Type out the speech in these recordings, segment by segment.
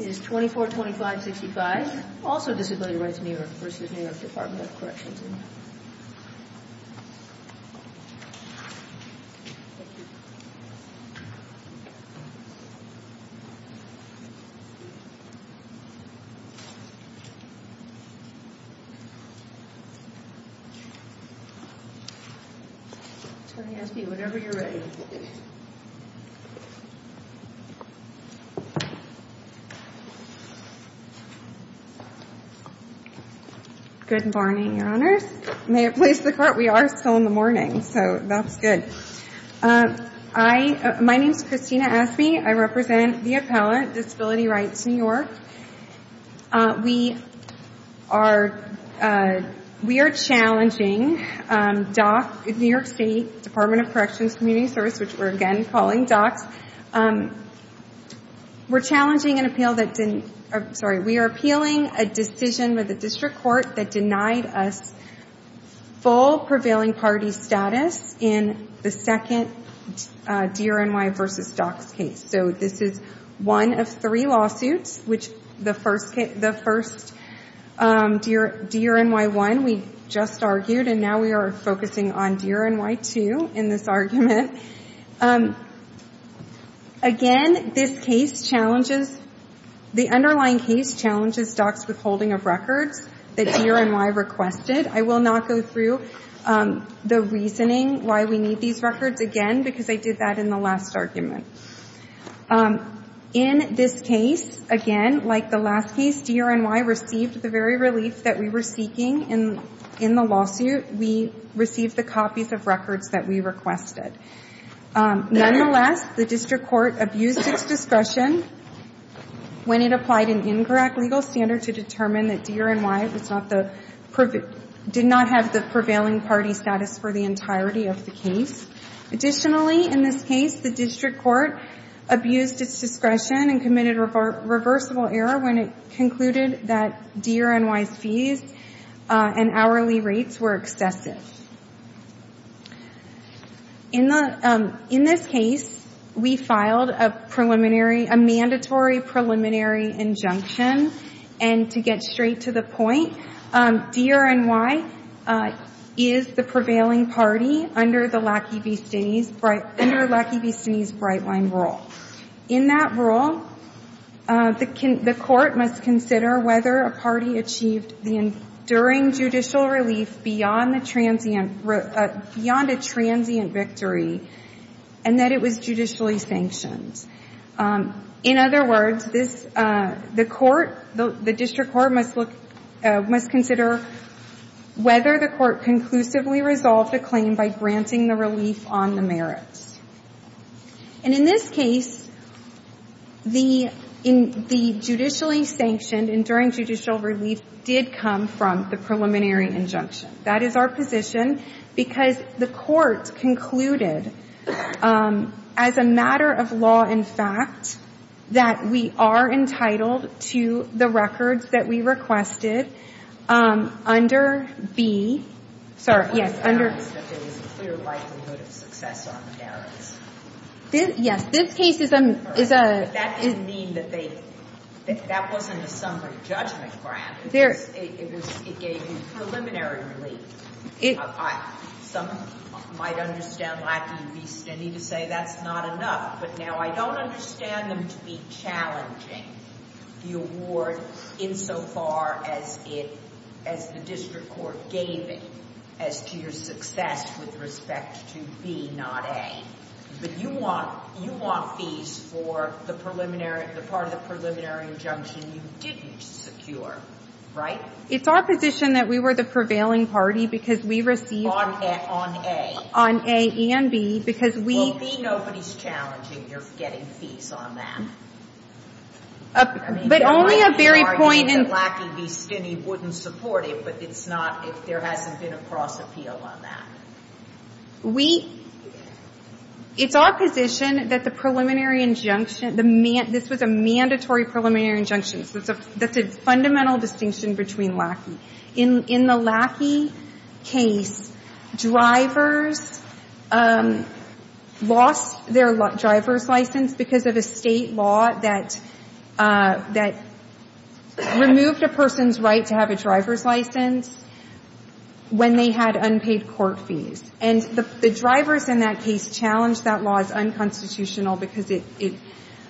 is 242565 also Disability Rights New York v. New York State Department of Corrections and Community Supervision. Good morning, Your Honors. May it please the Court, we are still in the morning, so that's good. My name is Christina Asme. I represent the appellant Disability Rights New York. We are challenging New York State Department of Corrections and Community Supervision, which we're again calling DOCS. We're appealing a decision by the district court that denied us full prevailing party status in the second DRNY v. DOCS case. So this is one of three lawsuits, the first DRNY1 we just argued, and now we are focusing on DRNY2 in this argument. Again, this case challenges, the underlying case challenges DOCS withholding of records that DRNY requested. I will not go through the reasoning why we need these records again because I did that in the last argument. In this case, again, like the last case, DRNY received the very relief that we were seeking in the lawsuit. We received the copies of records that we requested. Nonetheless, the district court abused its discretion when it applied an incorrect legal standard to determine that DRNY did not have the prevailing party status for the entirety of the case. Additionally, in this case, the district court abused its discretion and committed a reversible error when it concluded that DRNY's fees and hourly rates were excessive. In this case, we filed a mandatory preliminary injunction, and to get straight to the point, DRNY is the prevailing party under the Lackey v. Stinney's Brightline rule. In that rule, the court must consider whether a party achieved the enduring judicial relief beyond a transient victory and that it was judicially sanctioned. In other words, the court, the district court must consider whether the court conclusively resolved a claim by granting the relief on the merits. And in this case, the judicially sanctioned enduring judicial relief did come from the preliminary injunction. That is our position, because the court concluded, as a matter of law and fact, that we are entitled to the records that we requested under B. But that doesn't mean that there was a clear likelihood of success on the merits. But that doesn't mean that that wasn't a summary judgment grant. It gave you preliminary relief. Some might understand Lackey v. Stinney to say that's not enough, but now I don't understand them to be challenging the award insofar as the district court gave it as to your success with respect to B, not A. But you want fees for the part of the preliminary injunction you didn't secure, right? It's our position that we were the prevailing party because we received on A and B because we. Well, B, nobody's challenging your getting fees on that. But only a very point in. Lackey v. Stinney wouldn't support it, but it's not if there hasn't been a cross appeal on that. We. It's our position that the preliminary injunction, this was a mandatory preliminary injunction. That's a fundamental distinction between Lackey. In the Lackey case, drivers lost their driver's license because of a state law that removed a person's right to have a driver's license when they had unpaid court fees. And the drivers in that case challenged that law as unconstitutional because it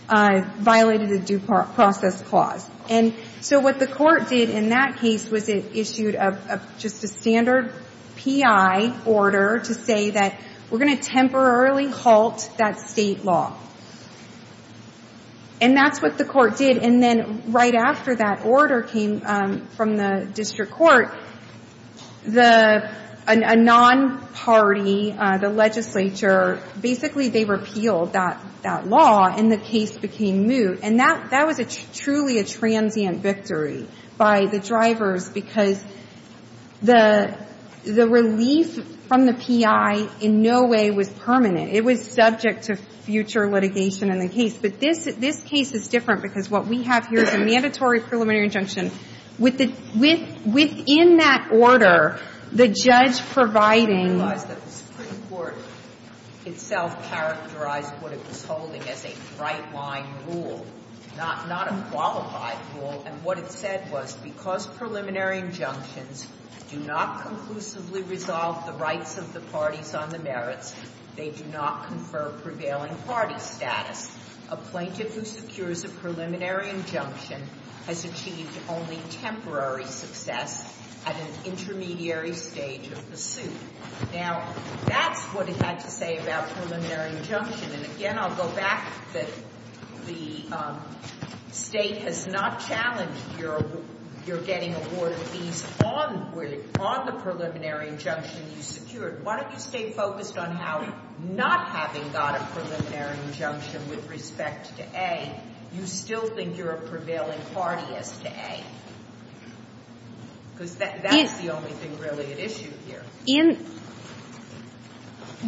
violated a due process clause. And so what the court did in that case was it issued just a standard P.I. order to say that we're going to temporarily halt that state law. And that's what the court did. And then right after that order came from the district court, a non-party, the legislature, basically they repealed that law and the case became moot. And that was truly a transient victory by the drivers because the relief from the P.I. in no way was permanent. It was subject to future litigation in the case. But this case is different because what we have here is a mandatory preliminary injunction. Within that order, the judge providing. I realize that the Supreme Court itself characterized what it was holding as a bright-line rule, not a qualified rule. And what it said was because preliminary injunctions do not conclusively resolve the rights of the parties on the merits, they do not confer prevailing party status. A plaintiff who secures a preliminary injunction has achieved only temporary success at an intermediary stage of the suit. Now, that's what it had to say about preliminary injunction. And, again, I'll go back that the State has not challenged your getting awarded fees on the preliminary injunction you secured. Why don't you stay focused on how not having got a preliminary injunction with respect to A, you still think you're a prevailing party as to A? Because that's the only thing really at issue here.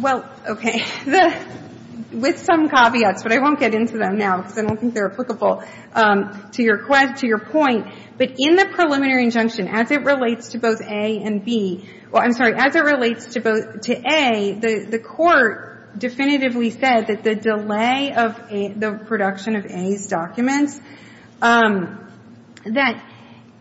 Well, okay. With some caveats, but I won't get into them now because I don't think they're applicable to your point. But in the preliminary injunction, as it relates to both A and B — well, I'm sorry, as it relates to both — to A, the Court definitively said that the delay of the production of A's documents, that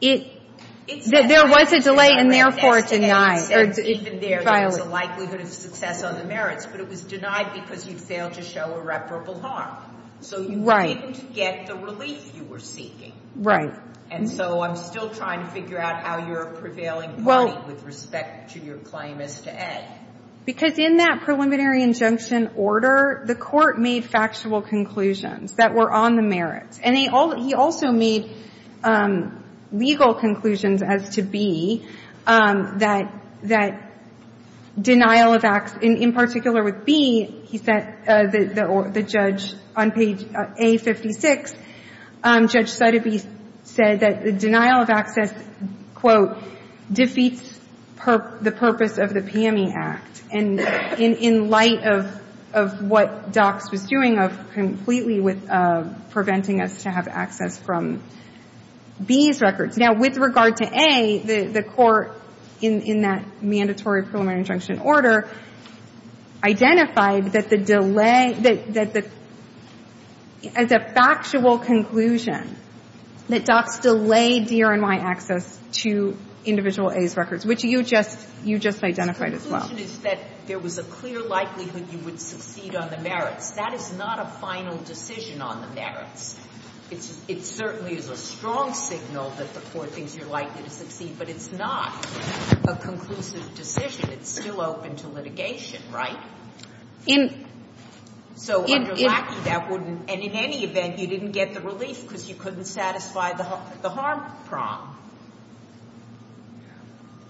it — that there was a delay and, therefore, it denied or it violated. Even there, there was a likelihood of success on the merits, but it was denied because you failed to show irreparable harm. So you didn't get the relief you were seeking. Right. And so I'm still trying to figure out how you're a prevailing party with respect to your claim as to A. Because in that preliminary injunction order, the Court made factual conclusions that were on the merits. And he also made legal conclusions as to B, that denial of acts — in particular with B, he said — the judge on page A56, Judge Sotheby's said that the denial of access, quote, defeats the purpose of the PME Act. And in light of what DOCS was doing of completely with preventing us to have access from B's records. Now, with regard to A, the Court in that mandatory preliminary injunction order identified that the delay — that the — as a factual conclusion, that DOCS delayed DRNY access to individual A's records, which you just — you just identified as well. The conclusion is that there was a clear likelihood you would succeed on the merits. That is not a final decision on the merits. It certainly is a strong signal that the Court thinks you're likely to succeed, but it's not a conclusive decision. It's still open to litigation, right? In — So under Lackey, that wouldn't — and in any event, you didn't get the relief because you couldn't satisfy the harm prong.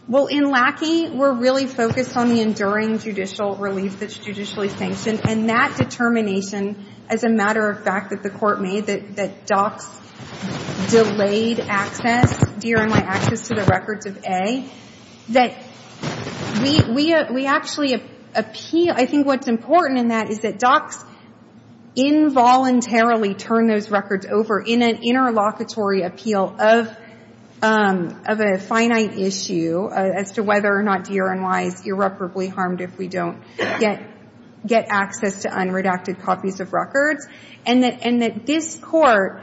Well, in Lackey, we're really focused on the enduring judicial relief that's judicially sanctioned. And that determination, as a matter of fact that the Court made, that DOCS delayed access, DRNY access to the records of A, that we — we actually appeal — I think what's important in that is that DOCS involuntarily turned those records over in an interlocutory appeal of — of a finite issue as to whether or not DRNY is irreparably harmed if we don't get — get access to unredacted copies of records. And that — and that this Court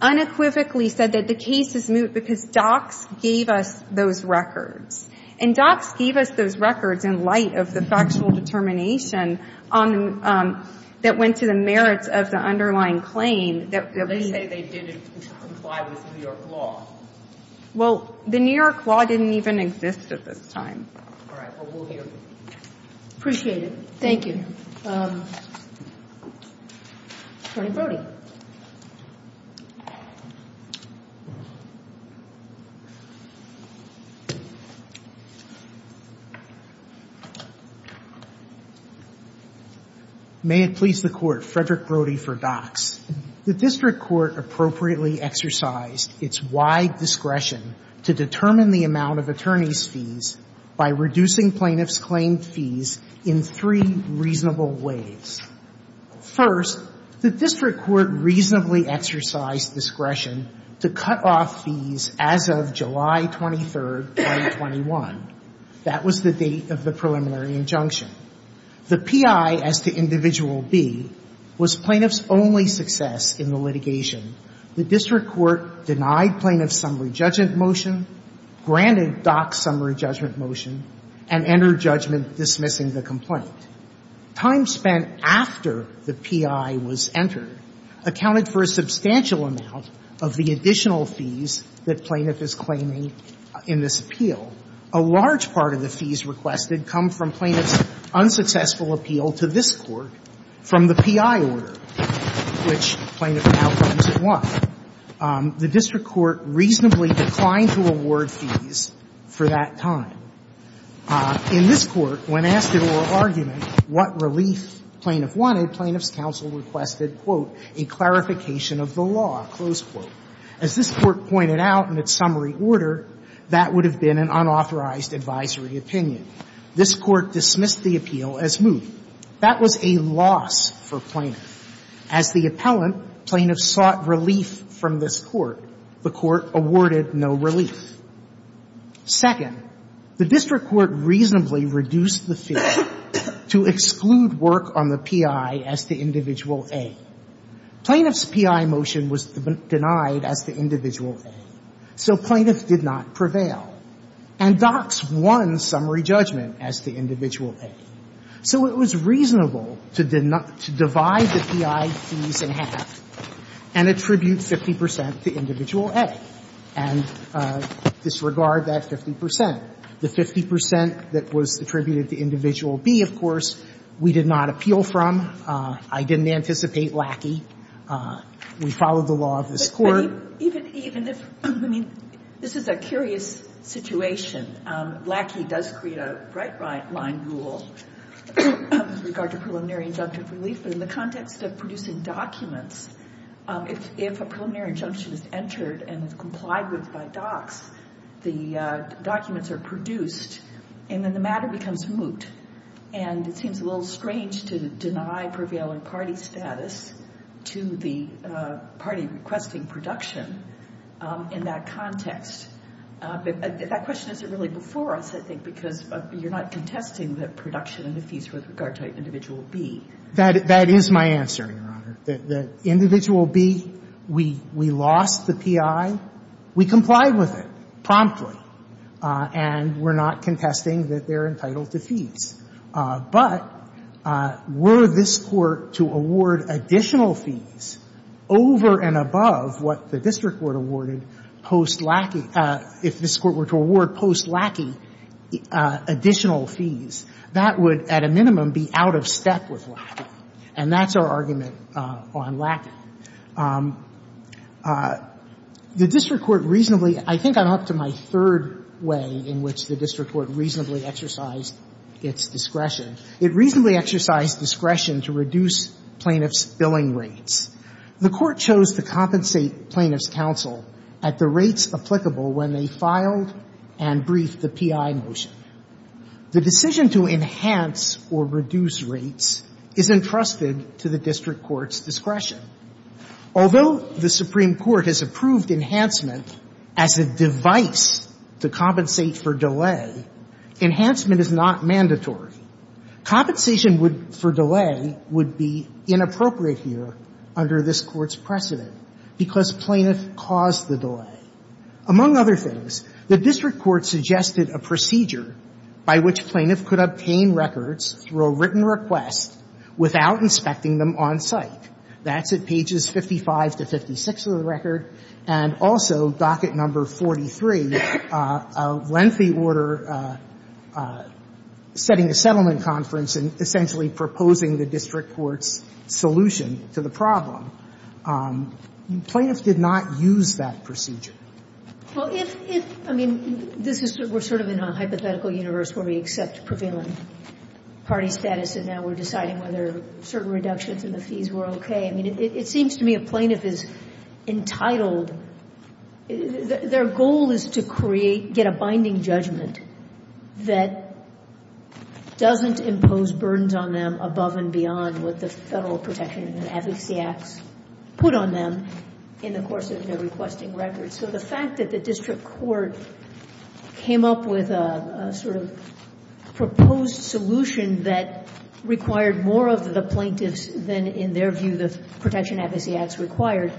unequivocally said that the case is moot because DOCS gave us those records. And DOCS gave us those records in light of the factual determination on — that went to the merits of the underlying claim that we — They say they didn't comply with New York law. Well, the New York law didn't even exist at this time. All right. Well, we'll hear you. Appreciate it. Thank you. Attorney Brody. May it please the Court, Frederick Brody for DOCS. The district court appropriately exercised its wide discretion to determine the amount of attorneys' fees by reducing plaintiffs' claimed fees in three reasonable ways. First, the district court reasonably exercised discretion to cut off fees as of July 23, 2021. That was the date of the preliminary injunction. The P.I. as to Individual B was plaintiffs' only success in the litigation. The district court denied plaintiffs' summary judgment motion, granted DOCS' summary judgment motion, and entered judgment dismissing the complaint. Time spent after the P.I. was entered accounted for a substantial amount of the additional fees that plaintiff is claiming in this appeal. A large part of the fees requested come from plaintiffs' unsuccessful appeal to this district court. From the P.I. order, which plaintiff now claims it won, the district court reasonably declined to award fees for that time. In this Court, when asked at oral argument what relief plaintiff wanted, plaintiffs' counsel requested, quote, a clarification of the law, close quote. As this Court pointed out in its summary order, that would have been an unauthorized advisory opinion. This Court dismissed the appeal as moot. That was a loss for plaintiff. As the appellant, plaintiffs sought relief from this Court. The Court awarded no relief. Second, the district court reasonably reduced the fee to exclude work on the P.I. as to Individual A. Plaintiff's P.I. motion was denied as to Individual A, so plaintiffs did not prevail. And DOCS won summary judgment as to Individual A. So it was reasonable to divide the P.I. fees in half and attribute 50 percent to Individual A and disregard that 50 percent. The 50 percent that was attributed to Individual B, of course, we did not appeal from. I didn't anticipate Lackey. We followed the law of this Court. But even if, I mean, this is a curious situation. Lackey does create a right-line rule with regard to preliminary injunctive relief. But in the context of producing documents, if a preliminary injunction is entered and is complied with by DOCS, the documents are produced, and then the matter becomes moot. And it seems a little strange to deny prevailing party status to the party requesting production in that context. That question isn't really before us, I think, because you're not contesting the production of the fees with regard to Individual B. That is my answer, Your Honor. Individual B, we lost the P.I. We complied with it promptly. And we're not contesting that they're entitled to fees. But were this Court to award additional fees over and above what the district Court awarded post Lackey, if this Court were to award post Lackey additional fees, that would, at a minimum, be out of step with Lackey. And that's our argument on Lackey. The district court reasonably — I think I'm up to my third way in which the district court reasonably exercised its discretion. It reasonably exercised discretion to reduce plaintiffs' billing rates. The Court chose to compensate plaintiffs' counsel at the rates applicable when they filed and briefed the P.I. motion. The decision to enhance or reduce rates is entrusted to the district court's discretion. Although the Supreme Court has approved enhancement as a device to compensate for delay, enhancement is not mandatory. Compensation for delay would be inappropriate here under this Court's precedent because plaintiff caused the delay. Among other things, the district court suggested a procedure by which plaintiff could obtain records through a written request without inspecting them on site. That's at pages 55 to 56 of the record. And also, docket number 43, a lengthy order setting a settlement conference and essentially proposing the district court's solution to the problem. Plaintiffs did not use that procedure. Well, if — if — I mean, this is — we're sort of in a hypothetical universe where we accept prevailing party status, and now we're deciding whether certain reductions in the fees were okay. I mean, it seems to me a plaintiff is entitled — their goal is to create — get a binding judgment that doesn't impose burdens on them above and beyond what the Federal Protection and Advocacy Acts put on them in the course of their requesting records. So the fact that the district court came up with a sort of proposed solution that required more of the plaintiffs than, in their view, the Protection and Advocacy Acts required,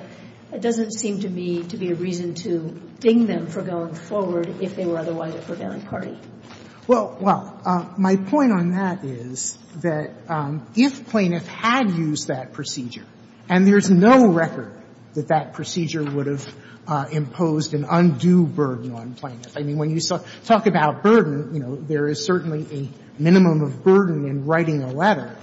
it doesn't seem to me to be a reason to ding them for going forward if they were otherwise a prevailing party. Well, my point on that is that if plaintiff had used that procedure, and there's no record that that procedure would have imposed an undue burden on plaintiff, I mean, when you talk about burden, you know, there is certainly a minimum of burden in writing a letter,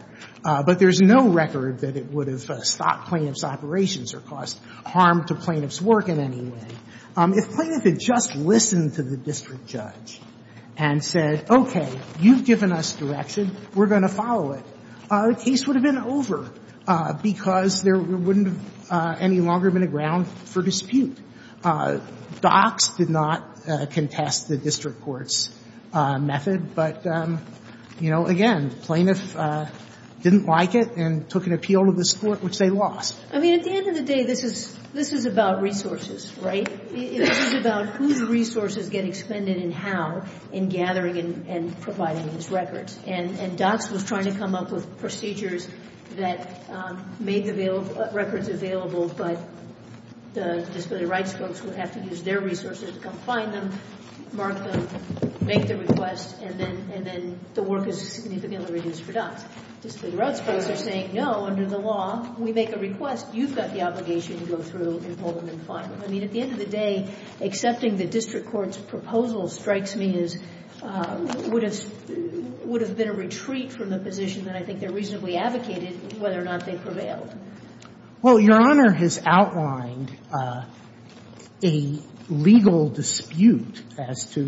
but there's no record that it would have stopped plaintiff's operations or caused harm to plaintiff's work in any way. If plaintiff had just listened to the district judge and said, okay, you've given us direction, we're going to follow it, the case would have been over because there is no record that it would have stopped plaintiff's operations or caused harm to And I think that that's the ground for dispute. Docks did not contest the district court's method, but, you know, again, the plaintiff didn't like it and took an appeal to this Court, which they lost. I mean, at the end of the day, this is about resources, right? This is about whose resources get expended and how in gathering and providing these records. And Docks was trying to come up with procedures that made the records available, but the disability rights folks would have to use their resources to come find them, mark them, make the request, and then the work is significantly reduced for Docks. Disability rights folks are saying, no, under the law, we make a request, you've got the obligation to go through and hold them and find them. I mean, at the end of the day, accepting the district court's proposal strikes me as would have been a retreat from the position that I think they reasonably advocated whether or not they prevailed. Well, Your Honor has outlined a legal dispute as to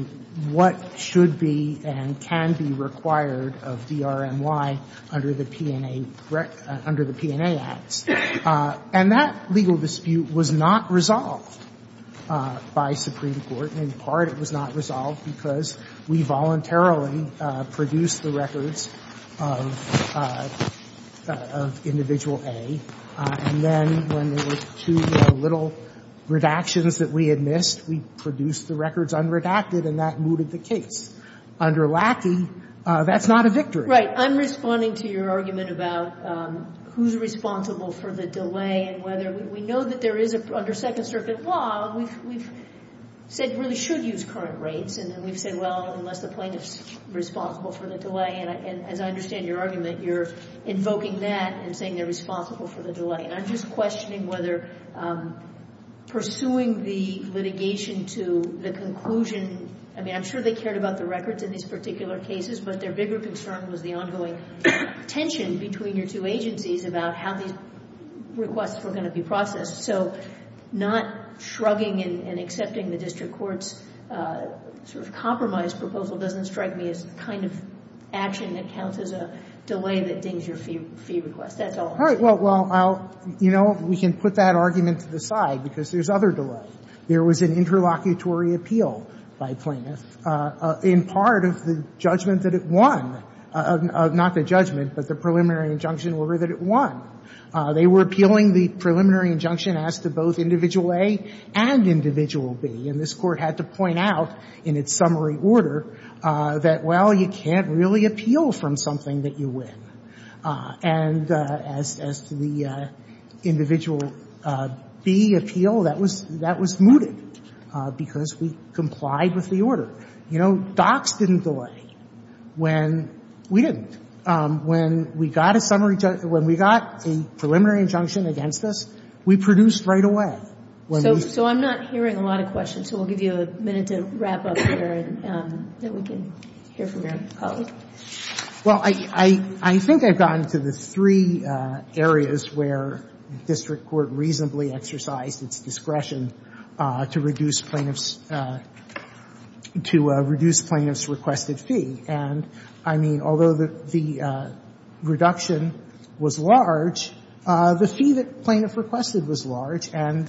what should be and can be required of DRMY under the P&A, under the P&A acts. And that legal dispute was not resolved by Supreme Court. In part, it was not resolved because we voluntarily produced the records of individual A, and then when there were two little redactions that we had missed, we produced the records unredacted and that mooted the case. Under Lackey, that's not a victory. I'm responding to your argument about who's responsible for the delay and whether we know that there is, under Second Circuit law, we've said really should use current rates, and then we've said, well, unless the plaintiff's responsible for the delay. And as I understand your argument, you're invoking that and saying they're responsible for the delay. And I'm just questioning whether pursuing the litigation to the conclusion that there was an interlocutory appeal. I mean, I'm sure they cared about the records in these particular cases, but their bigger concern was the ongoing tension between your two agencies about how these requests were going to be processed. So not shrugging and accepting the district court's sort of compromise proposal doesn't strike me as the kind of action that counts as a delay that dings your fee request. That's all. All right. Well, you know, we can put that argument to the side because there's other delay. There was an interlocutory appeal by plaintiffs in part of the judgment that it won of not the judgment, but the preliminary injunction order that it won. They were appealing the preliminary injunction as to both Individual A and Individual B, and this Court had to point out in its summary order that, well, you can't really And as to the Individual B appeal, that was mooted because we complied with the order. You know, docs didn't delay when we didn't. When we got a preliminary injunction against us, we produced right away. So I'm not hearing a lot of questions, so we'll give you a minute to wrap up here and then we can hear from your colleague. Well, I think I've gotten to the three areas where district court reasonably exercised its discretion to reduce plaintiffs' requested fee. And, I mean, although the reduction was large, the fee that plaintiff requested was large, and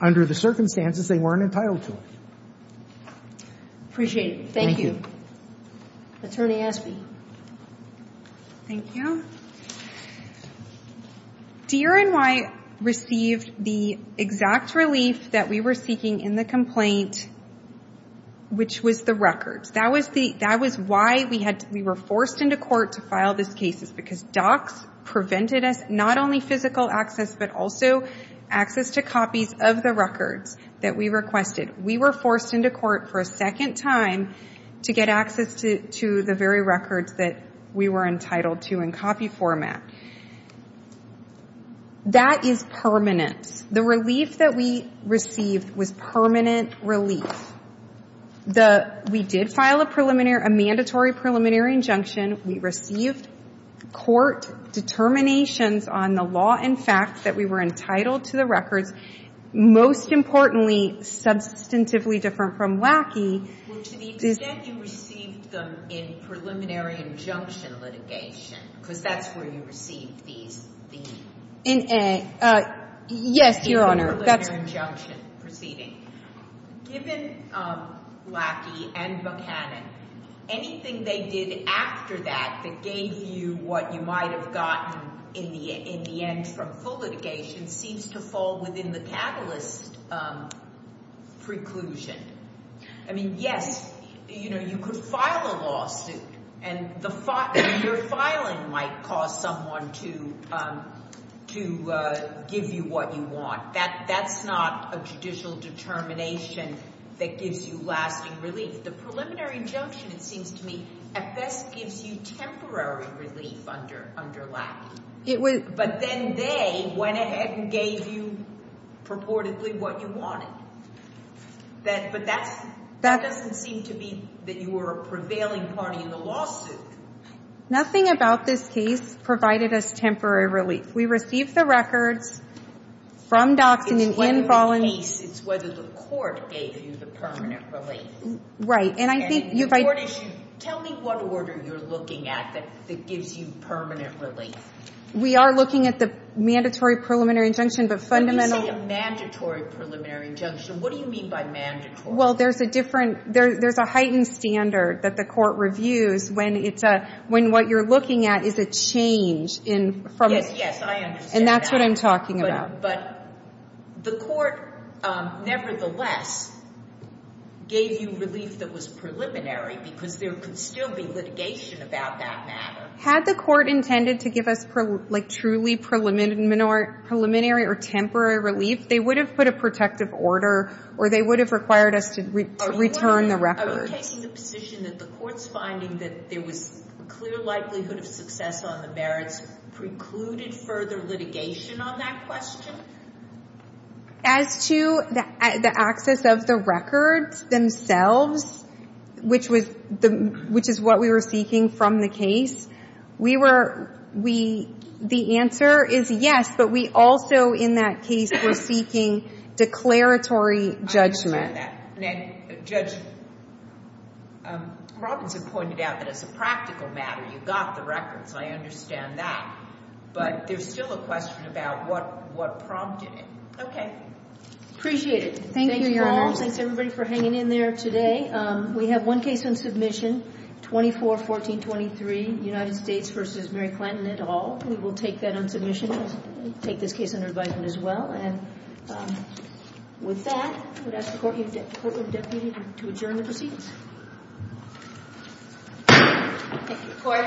under the circumstances, they weren't entitled to it. Appreciate it. Thank you. Attorney Aspey. Thank you. DRNY received the exact relief that we were seeking in the complaint, which was the records. That was why we were forced into court to file these cases, because docs prevented us not only physical access, but also access to copies of the records that we requested. We were forced into court for a second time to get access to the very records that we were entitled to in copy format. That is permanent. The relief that we received was permanent relief. We did file a mandatory preliminary injunction. We received court determinations on the law and facts that we were entitled to the records. Most importantly, substantively different from Wacky, is that you received them in preliminary injunction litigation, because that's where you received these fees. Yes, Your Honor. In the preliminary injunction proceeding. Given Wacky and Buchanan, anything they did after that that gave you what you might seems to fall within the catalyst preclusion. Yes, you could file a lawsuit, and your filing might cause someone to give you what you want. That's not a judicial determination that gives you lasting relief. The preliminary injunction, it seems to me, at best gives you temporary relief under Wacky. But then they went ahead and gave you purportedly what you wanted. But that doesn't seem to be that you were a prevailing party in the lawsuit. Nothing about this case provided us temporary relief. We received the records from Dockson. It's whether the court gave you the permanent relief. Right. Tell me what order you're looking at that gives you permanent relief. We are looking at the mandatory preliminary injunction. When you say a mandatory preliminary injunction, what do you mean by mandatory? Well, there's a heightened standard that the court reviews when what you're looking at is a change. Yes, I understand that. And that's what I'm talking about. But the court, nevertheless, gave you relief that was preliminary because there could still be litigation about that matter. Had the court intended to give us, like, truly preliminary or temporary relief, they would have put a protective order or they would have required us to return the records. Are you taking the position that the court's finding that there was clear likelihood of success on the merits precluded further litigation on that question? As to the access of the records themselves, which is what we were seeking from the case, the answer is yes, but we also, in that case, were seeking declaratory judgment. Judge Robinson pointed out that as a practical matter, you got the records. I understand that. But there's still a question about what prompted it. Okay. Appreciate it. Thank you, Your Honor. Thank you all. Thanks, everybody, for hanging in there today. We have one case on submission, 24-1423, United States v. Mary Clinton et al. We will take that on submission. We'll take this case under advisement as well. And with that, I would ask the Courtroom Deputy to adjourn the proceedings. Thank you, Court. It is adjourned.